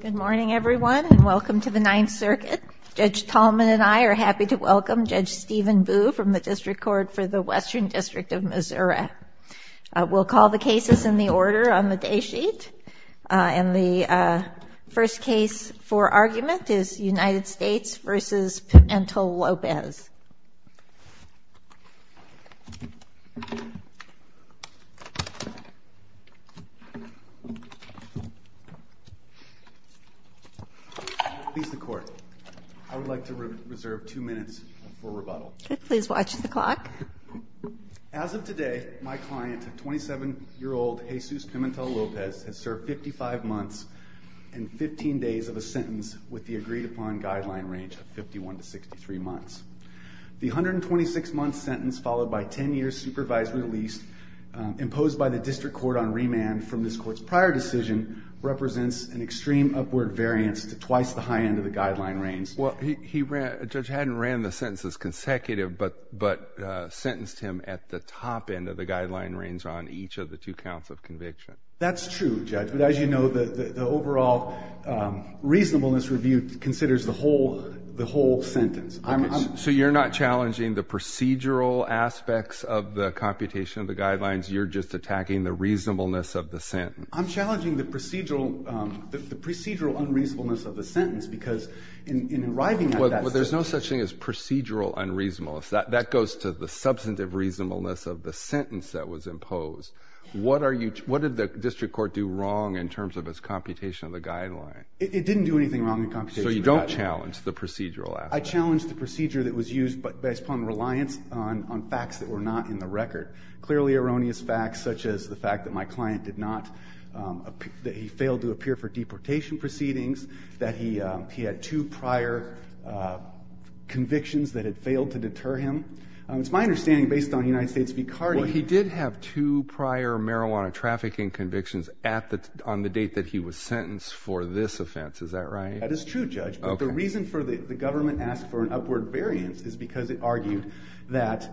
Good morning everyone and welcome to the Ninth Circuit. Judge Tallman and I are happy to welcome Judge Stephen Boo from the District Court for the Western District of Missouri. We'll call the cases in the order on the day sheet and the first case for argument is United States v. Pimentel-Lopez. I would like to reserve two minutes for rebuttal. Please watch the clock. As of 15 days of a sentence with the agreed-upon guideline range of 51 to 63 months. The 126 month sentence followed by 10 years supervised release imposed by the District Court on remand from this court's prior decision represents an extreme upward variance to twice the high end of the guideline range. Well, Judge Haddon ran the sentences consecutive but sentenced him at the top end of the guideline range on each of the two counts of conviction. That's true, Judge, but as you know the overall reasonableness review considers the whole sentence. So you're not challenging the procedural aspects of the computation of the guidelines, you're just attacking the reasonableness of the sentence. I'm challenging the procedural unreasonableness of the sentence because in arriving at that... Well, there's no such thing as procedural unreasonableness. That goes to the substantive reasonableness of the sentence. So what did the District Court do wrong in terms of its computation of the guideline? It didn't do anything wrong in computation of the guideline. So you don't challenge the procedural aspect? I challenge the procedure that was used based upon reliance on facts that were not in the record. Clearly erroneous facts such as the fact that my client did not, that he failed to appear for deportation proceedings, that he had two prior convictions that had failed to deter him. It's my understanding based on United States v. Cardi... Well, he did have two prior marijuana trafficking convictions on the date that he was sentenced for this offense, is that right? That is true, Judge. But the reason for the government asked for an upward variance is because it argued that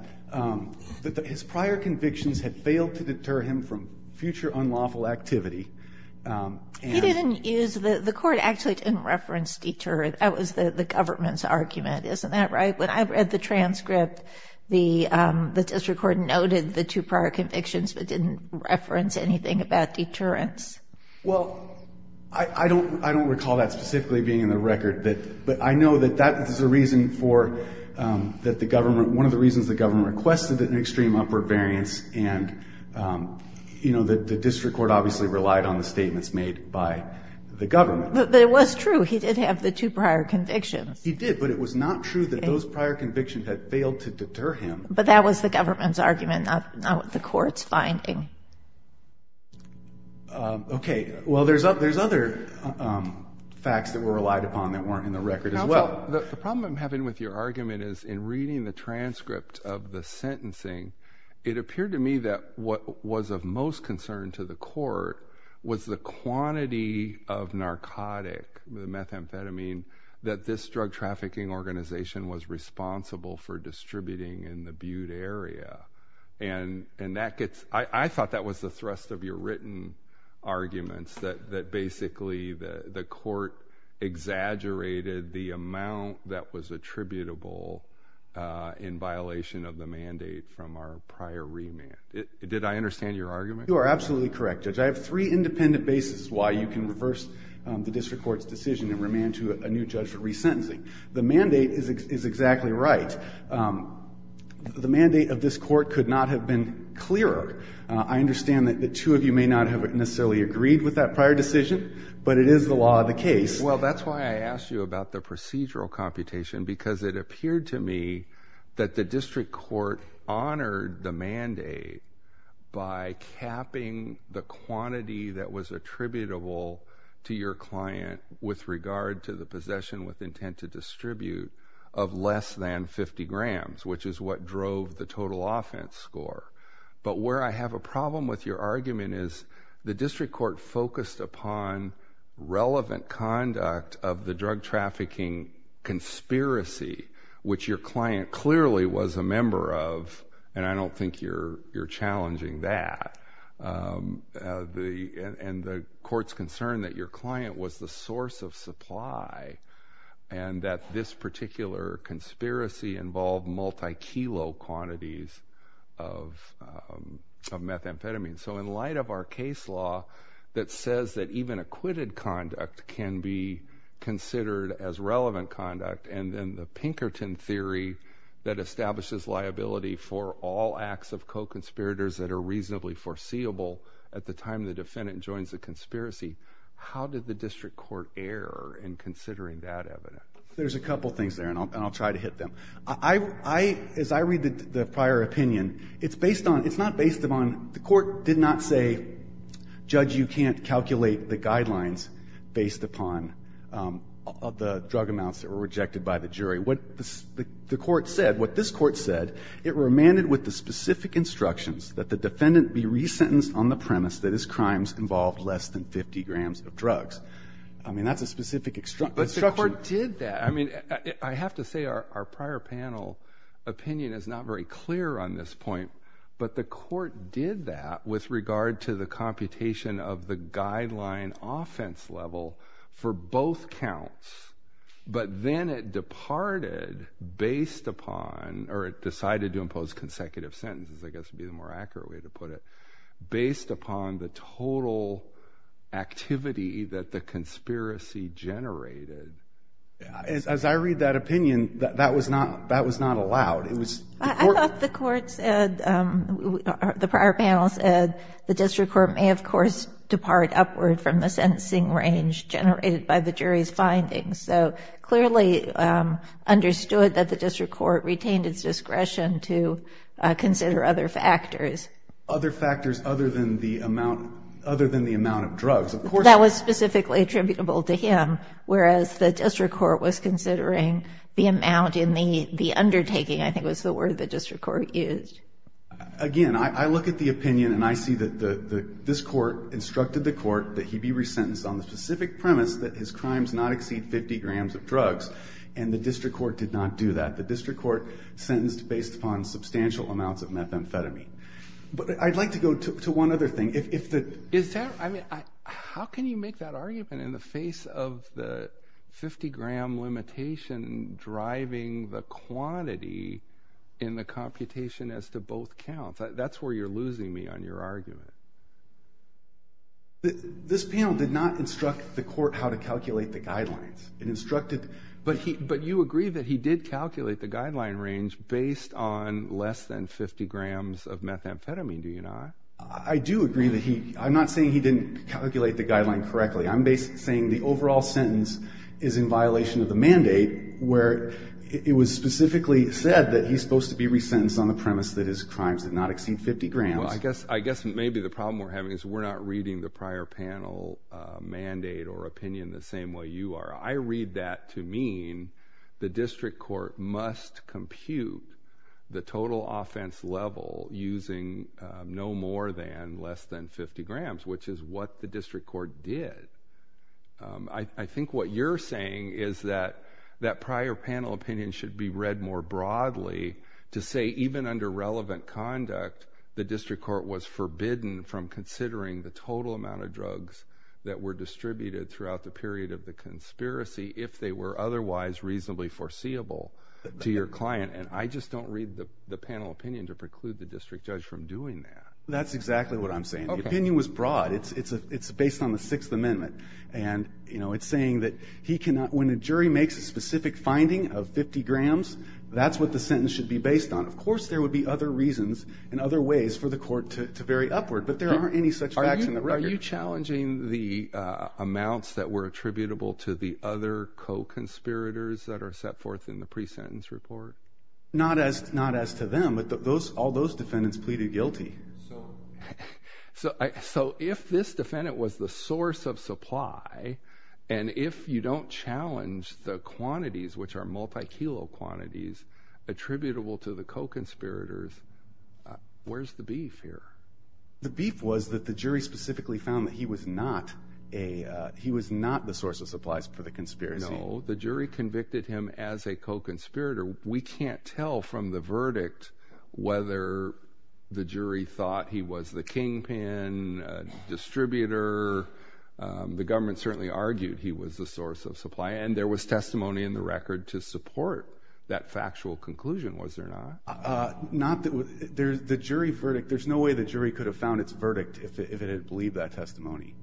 his prior convictions had failed to deter him from future unlawful activity. He didn't use... the court actually didn't reference deter. That was the government's argument, isn't that right? When I read the transcript, the District Court noted the two prior convictions, but didn't reference anything about deterrence. Well, I don't recall that specifically being in the record, but I know that that is a reason for, that the government, one of the reasons the government requested an extreme upward variance and, you know, the District Court obviously relied on the statements made by the government. But it was true, he did have the two prior convictions. He did, but it was not true that those prior convictions had failed to deter him. But that was the government's argument, not what the court's finding. Okay, well there's other facts that were relied upon that weren't in the record as well. The problem I'm having with your argument is, in reading the transcript of the sentencing, it appeared to me that what was of most concern to the court was the quantity of narcotic, the methamphetamine, that this drug trafficking organization was responsible for distributing in the Butte area. And that gets, I thought that was the thrust of your written arguments, that basically the court exaggerated the amount that was attributable in violation of the mandate from our prior remand. Did I understand your argument? You are absolutely correct, Judge. I have three independent bases why you can reverse the District Court's decision and remand to a new judge for resentencing. The mandate is exactly right. The mandate of this court could not have been clearer. I understand that the two of you may not have necessarily agreed with that prior decision, but it is the law of the case. Well, that's why I asked you about the procedural computation, because it appeared to me that the District Court honored the mandate by capping the quantity that was attributable to your distribute of less than 50 grams, which is what drove the total offense score. But where I have a problem with your argument is the District Court focused upon relevant conduct of the drug trafficking conspiracy, which your client clearly was a member of, and I don't think you're you're challenging that. And the court's concerned that your client was the source of supply, and that this particular conspiracy involved multi-kilo quantities of methamphetamine. So in light of our case law that says that even acquitted conduct can be considered as relevant conduct, and then the Pinkerton theory that establishes for all acts of co-conspirators that are reasonably foreseeable at the time the defendant joins the conspiracy, how did the District Court err in considering that evidence? There's a couple things there, and I'll try to hit them. As I read the prior opinion, it's based on, it's not based upon, the court did not say, Judge, you can't calculate the guidelines based upon the drug amounts that were rejected by the jury. What the court said, what this court said it remanded with the specific instructions that the defendant be resentenced on the premise that his crimes involved less than 50 grams of drugs. I mean, that's a specific instruction. But the court did that. I mean, I have to say our prior panel opinion is not very clear on this point, but the court did that with regard to the computation of the guideline offense level for both counts, but then it departed based upon, or it decided to impose consecutive sentences, I guess would be the more accurate way to put it, based upon the total activity that the conspiracy generated. As I read that opinion, that was not allowed. I thought the court said, the prior panel said, the District Court may, of course, depart upward from the sentencing range generated by the jury's findings, so clearly understood that the District Court retained its discretion to consider other factors. Other factors other than the amount of drugs. That was specifically attributable to him, whereas the District Court was considering the amount in the undertaking, I think was the word the District Court used. Again, I look at the opinion and I see that this court instructed the court that he be sentenced on the specific premise that his crimes not exceed 50 grams of drugs, and the District Court did not do that. The District Court sentenced based upon substantial amounts of methamphetamine. But I'd like to go to one other thing. How can you make that argument in the face of the 50 gram limitation driving the quantity in the computation as to both counts? That's where you're losing me on your argument. This panel did not instruct the court how to calculate the guidelines. But you agree that he did calculate the guideline range based on less than 50 grams of methamphetamine, do you not? I do agree that he, I'm not saying he didn't calculate the guideline correctly. I'm basically saying the overall sentence is in violation of the mandate, where it was specifically said that he's supposed to be resentenced on the premise that his crimes did not exceed 50 grams. Well, I guess maybe the problem we're having is we're not reading the prior panel mandate or opinion the same way you are. I read that to mean the District Court must compute the total offense level using no more than less than 50 grams, which is what the District Court did. I think what you're saying is that that prior panel opinion should be read more broadly to say even under relevant conduct the District Court was forbidden from considering the total amount of drugs that were distributed throughout the period of the conspiracy if they were otherwise reasonably foreseeable to your client. And I just don't read the panel opinion to preclude the District Judge from doing that. That's exactly what I'm saying. The opinion was broad. It's based on the Sixth Amendment. And, you know, 50 grams, that's what the sentence should be based on. Of course, there would be other reasons and other ways for the court to vary upward, but there aren't any such facts in the record. Are you challenging the amounts that were attributable to the other co-conspirators that are set forth in the pre-sentence report? Not as to them, but all those defendants pleaded guilty. So if this defendant was the source of supply, and if you don't challenge the quantities, which are multi-kilo quantities, attributable to the co-conspirators, where's the beef here? The beef was that the jury specifically found that he was not a, he was not the source of supplies for the conspiracy. No, the jury convicted him as a co-conspirator. We can't tell from the verdict whether the jury thought he was the kingpin, distributor. The government certainly argued he was the source of supply, and there was testimony in the record to support that factual conclusion, was there not? Not that, there's the jury verdict, there's no way the jury could have found its verdict if it didn't believe that testimony.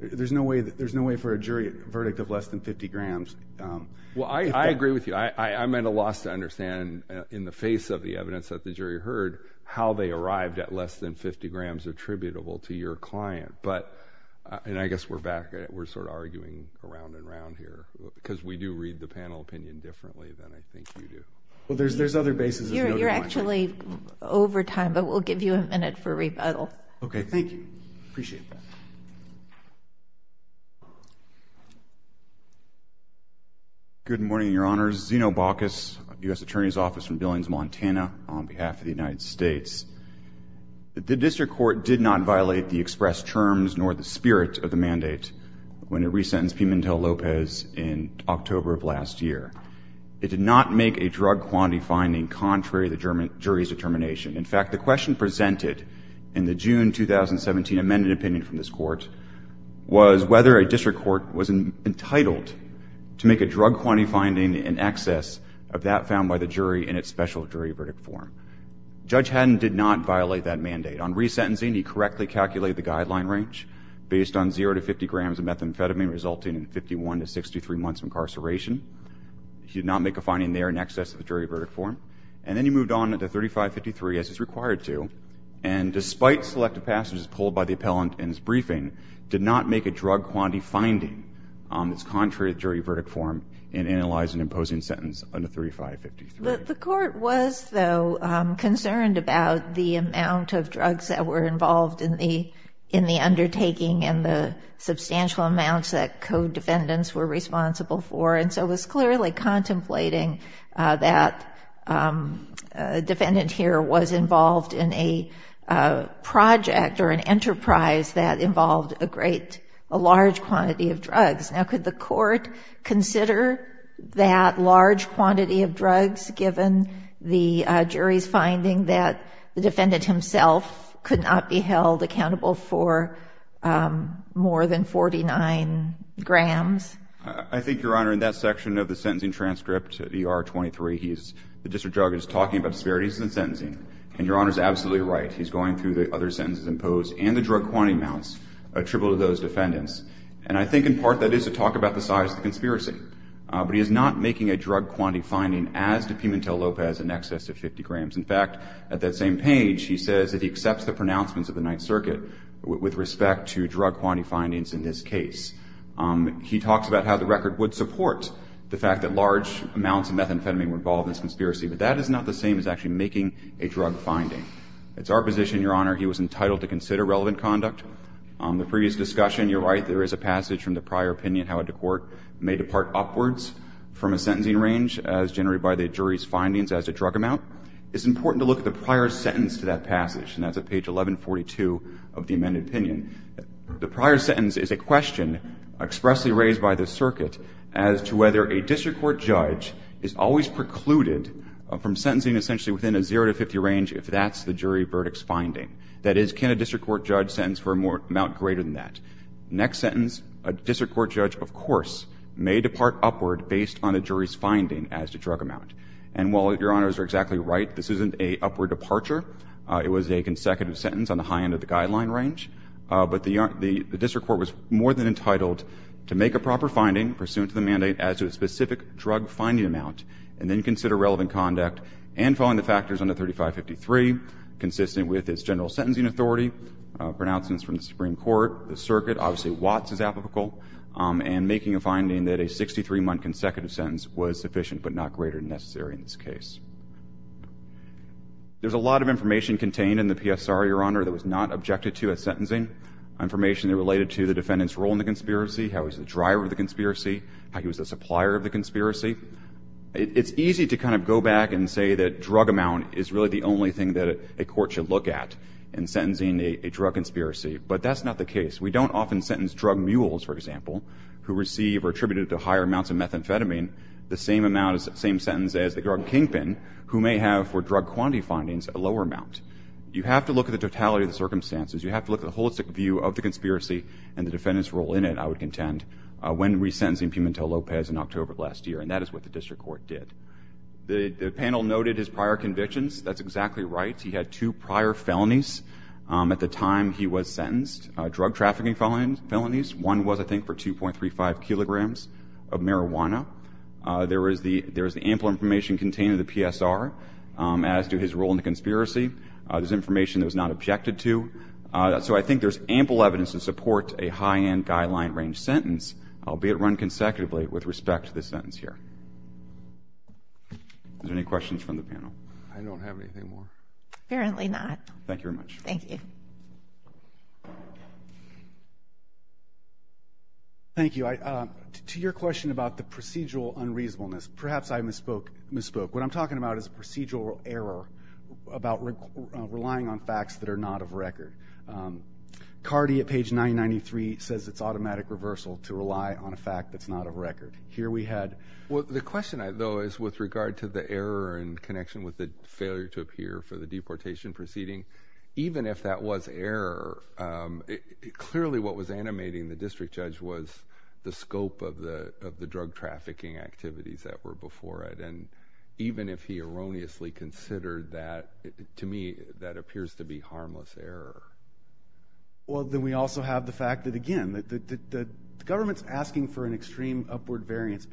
There's no way that, there's no way for a jury verdict of less than 50 grams. Well, I agree with you. I'm at a loss to understand, in the face of the evidence that the jury heard, how they arrived at less than 50 grams attributable to your client, but, and I guess we're back, we're sort of arguing around and around here, because we do read the panel opinion differently than I think you do. Well, there's, there's other bases. You're actually over time, but we'll give you a minute for rebuttal. Okay, thank you. Appreciate that. Good morning, your honors. Zeno Bacchus, U.S. Attorney's Office from Billings, Montana, on behalf of the United States. The district court did not violate the expressed terms nor the spirit of the mandate when it resentenced Pimentel Lopez in October of last year. It did not make a drug quantity finding contrary to the jury's determination. In fact, the question presented in the June 2017 amended opinion from this court was whether a district court was entitled to make a drug quantity finding in excess of that found by the jury in its special jury verdict form. Judge Haddon did not violate that mandate. On resentencing, he correctly calculated the guideline range based on zero to 50 grams of methamphetamine resulting in 51 to 63 months of incarceration. He did not make a finding there in excess of the jury verdict form, and then he moved on to 3553 as is required to, and despite selective passages pulled by the appellant in his briefing, did not make a drug quantity finding that's contrary to jury verdict form and analyze an imposing sentence under 3553. The court was, though, concerned about the amount of drugs that were involved in the undertaking and the substantial amounts that code defendants were responsible for, and so was clearly contemplating that a defendant here was involved in a project or an enterprise that involved a great, a large quantity of drugs. Now did the court consider that large quantity of drugs given the jury's finding that the defendant himself could not be held accountable for more than 49 grams? I think, Your Honor, in that section of the sentencing transcript, ER 23, the district judge is talking about disparities in the sentencing, and Your Honor is absolutely right. He's going through the other sentences imposed and the drug quantity amounts attributable to those defendants, and I think in part that is to talk about the size of the conspiracy, but he is not making a drug quantity finding as did Pimentel-Lopez in excess of 50 grams. In fact, at that same page, he says that he accepts the pronouncements of the Ninth Circuit with respect to drug quantity findings in this case. He talks about how the record would support the fact that large amounts of methamphetamine were involved in this conspiracy, but that is not the same as actually making a drug finding. It's our position, Your Honor, he was entitled to consider relevant conduct. On the previous discussion, you're right, there is a passage from the prior opinion how a court may depart upwards from a sentencing range as generated by the jury's findings as a drug amount. It's important to look at the prior sentence to that passage, and that's at page 1142 of the amended opinion. The prior sentence is a question expressly raised by the circuit as to whether a district court judge is always precluded from sentencing essentially within a 0 to 50 range if that's the jury verdict's finding. That is, can a district court judge make a sentence for an amount greater than that? Next sentence, a district court judge, of course, may depart upward based on a jury's finding as to drug amount. And while Your Honors are exactly right, this isn't an upward departure. It was a consecutive sentence on the high end of the guideline range. But the district court was more than entitled to make a proper finding pursuant to the mandate as to a specific drug finding amount, and then consider relevant conduct and following the factors under 3553, consistent with its general sentencing authority, pronouncements from the Supreme Court, the circuit, obviously Watts is applicable, and making a finding that a 63-month consecutive sentence was sufficient but not greater than necessary in this case. There's a lot of information contained in the PSR, Your Honor, that was not objected to as sentencing. Information related to the defendant's role in the conspiracy, how he was the driver of the conspiracy, how he was the supplier of the conspiracy. It's easy to kind of go back and say that drug amount is really the only thing that a court should look at in sentencing a drug conspiracy. But that's not the case. We don't often sentence drug mules, for example, who receive or attributed to higher amounts of methamphetamine the same amount, same sentence as the drug kingpin, who may have, for drug quantity findings, a lower amount. You have to look at the totality of the circumstances. You have to look at the holistic view of the conspiracy and the defendant's role in it, I would contend, when resentencing Pimentel Lopez in October of last year. And that is what the district court did. The panel noted his prior convictions. That's exactly right. He had two prior felonies at the time he was sentenced. Drug trafficking felonies. One was, I think, for 2.35 kilograms of marijuana. There is the ample information contained in the PSR as to his role in the conspiracy. There's information that was not objected to. So I think there's ample evidence to support a high-end guideline-range sentence, albeit run consecutively, with respect to this sentence here. Any questions from the panel? Apparently not. Thank you very much. Thank you. Thank you. To your question about the procedural unreasonableness, perhaps I misspoke. What I'm talking about is a procedural error about relying on facts that are not of record. Cardi, at page 993, says it's automatic reversal to rely on a fact that's not of record. Here we had... Well, the question, though, is with regard to the error in connection with the failure to appear for the deportation proceeding, even if that was error, clearly what was animating the district judge was the scope of the drug trafficking activities that were before it. And even if he erroneously considered that, to me, that appears to be harmless error. Well, then we also have the fact that, again, the government's asking for upward variance.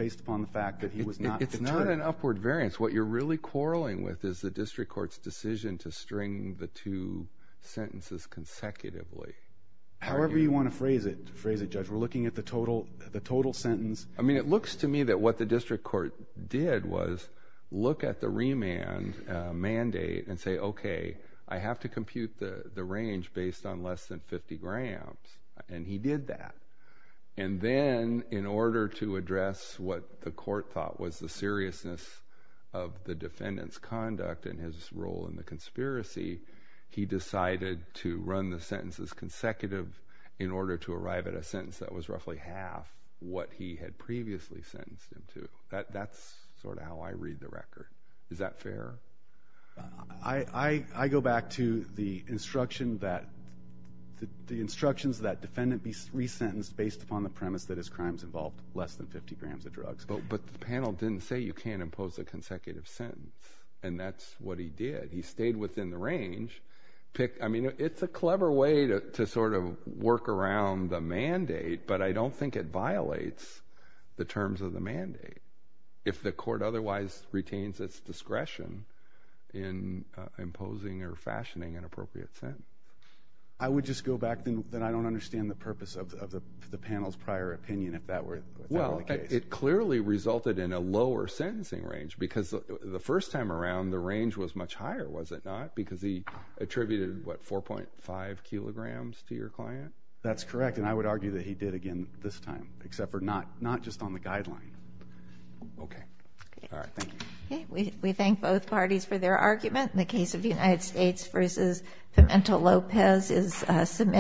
What you're really quarreling with is the district court's decision to string the two sentences consecutively. However you want to phrase it, judge. We're looking at the total sentence. I mean, it looks to me that what the district court did was look at the remand mandate and say, okay, I have to compute the range based on less than 50 grams. And he did that. And then, in order to address what the court thought was the seriousness of the defendant's conduct and his role in the conspiracy, he decided to run the sentences consecutive in order to arrive at a sentence that was roughly half what he had previously sentenced him to. That's sort of how I read the record. Is that fair? I go back to the instruction that... The instructions that defendant be resentenced based upon the premise that his crimes involved less than 50 grams of drugs. But the panel didn't say you can't impose a consecutive sentence. And that's what he did. He stayed within the range. I mean, it's a clever way to sort of work around the mandate, but I don't think it violates the terms of the mandate. If the court otherwise retains its discretion in imposing or fashioning an appropriate sentence. I would just go back then that I don't understand the purpose of the panel's prior opinion if that were the case. Well, it clearly resulted in a lower sentencing range. Because the first time around, the range was much higher, was it not? Because he attributed, what, 4.5 kilograms to your client? That's correct. And I would argue that he did again this time. Except for not just on the guideline. Okay. We thank both parties for their argument. In the case of the United States versus Pimentel-Lopez is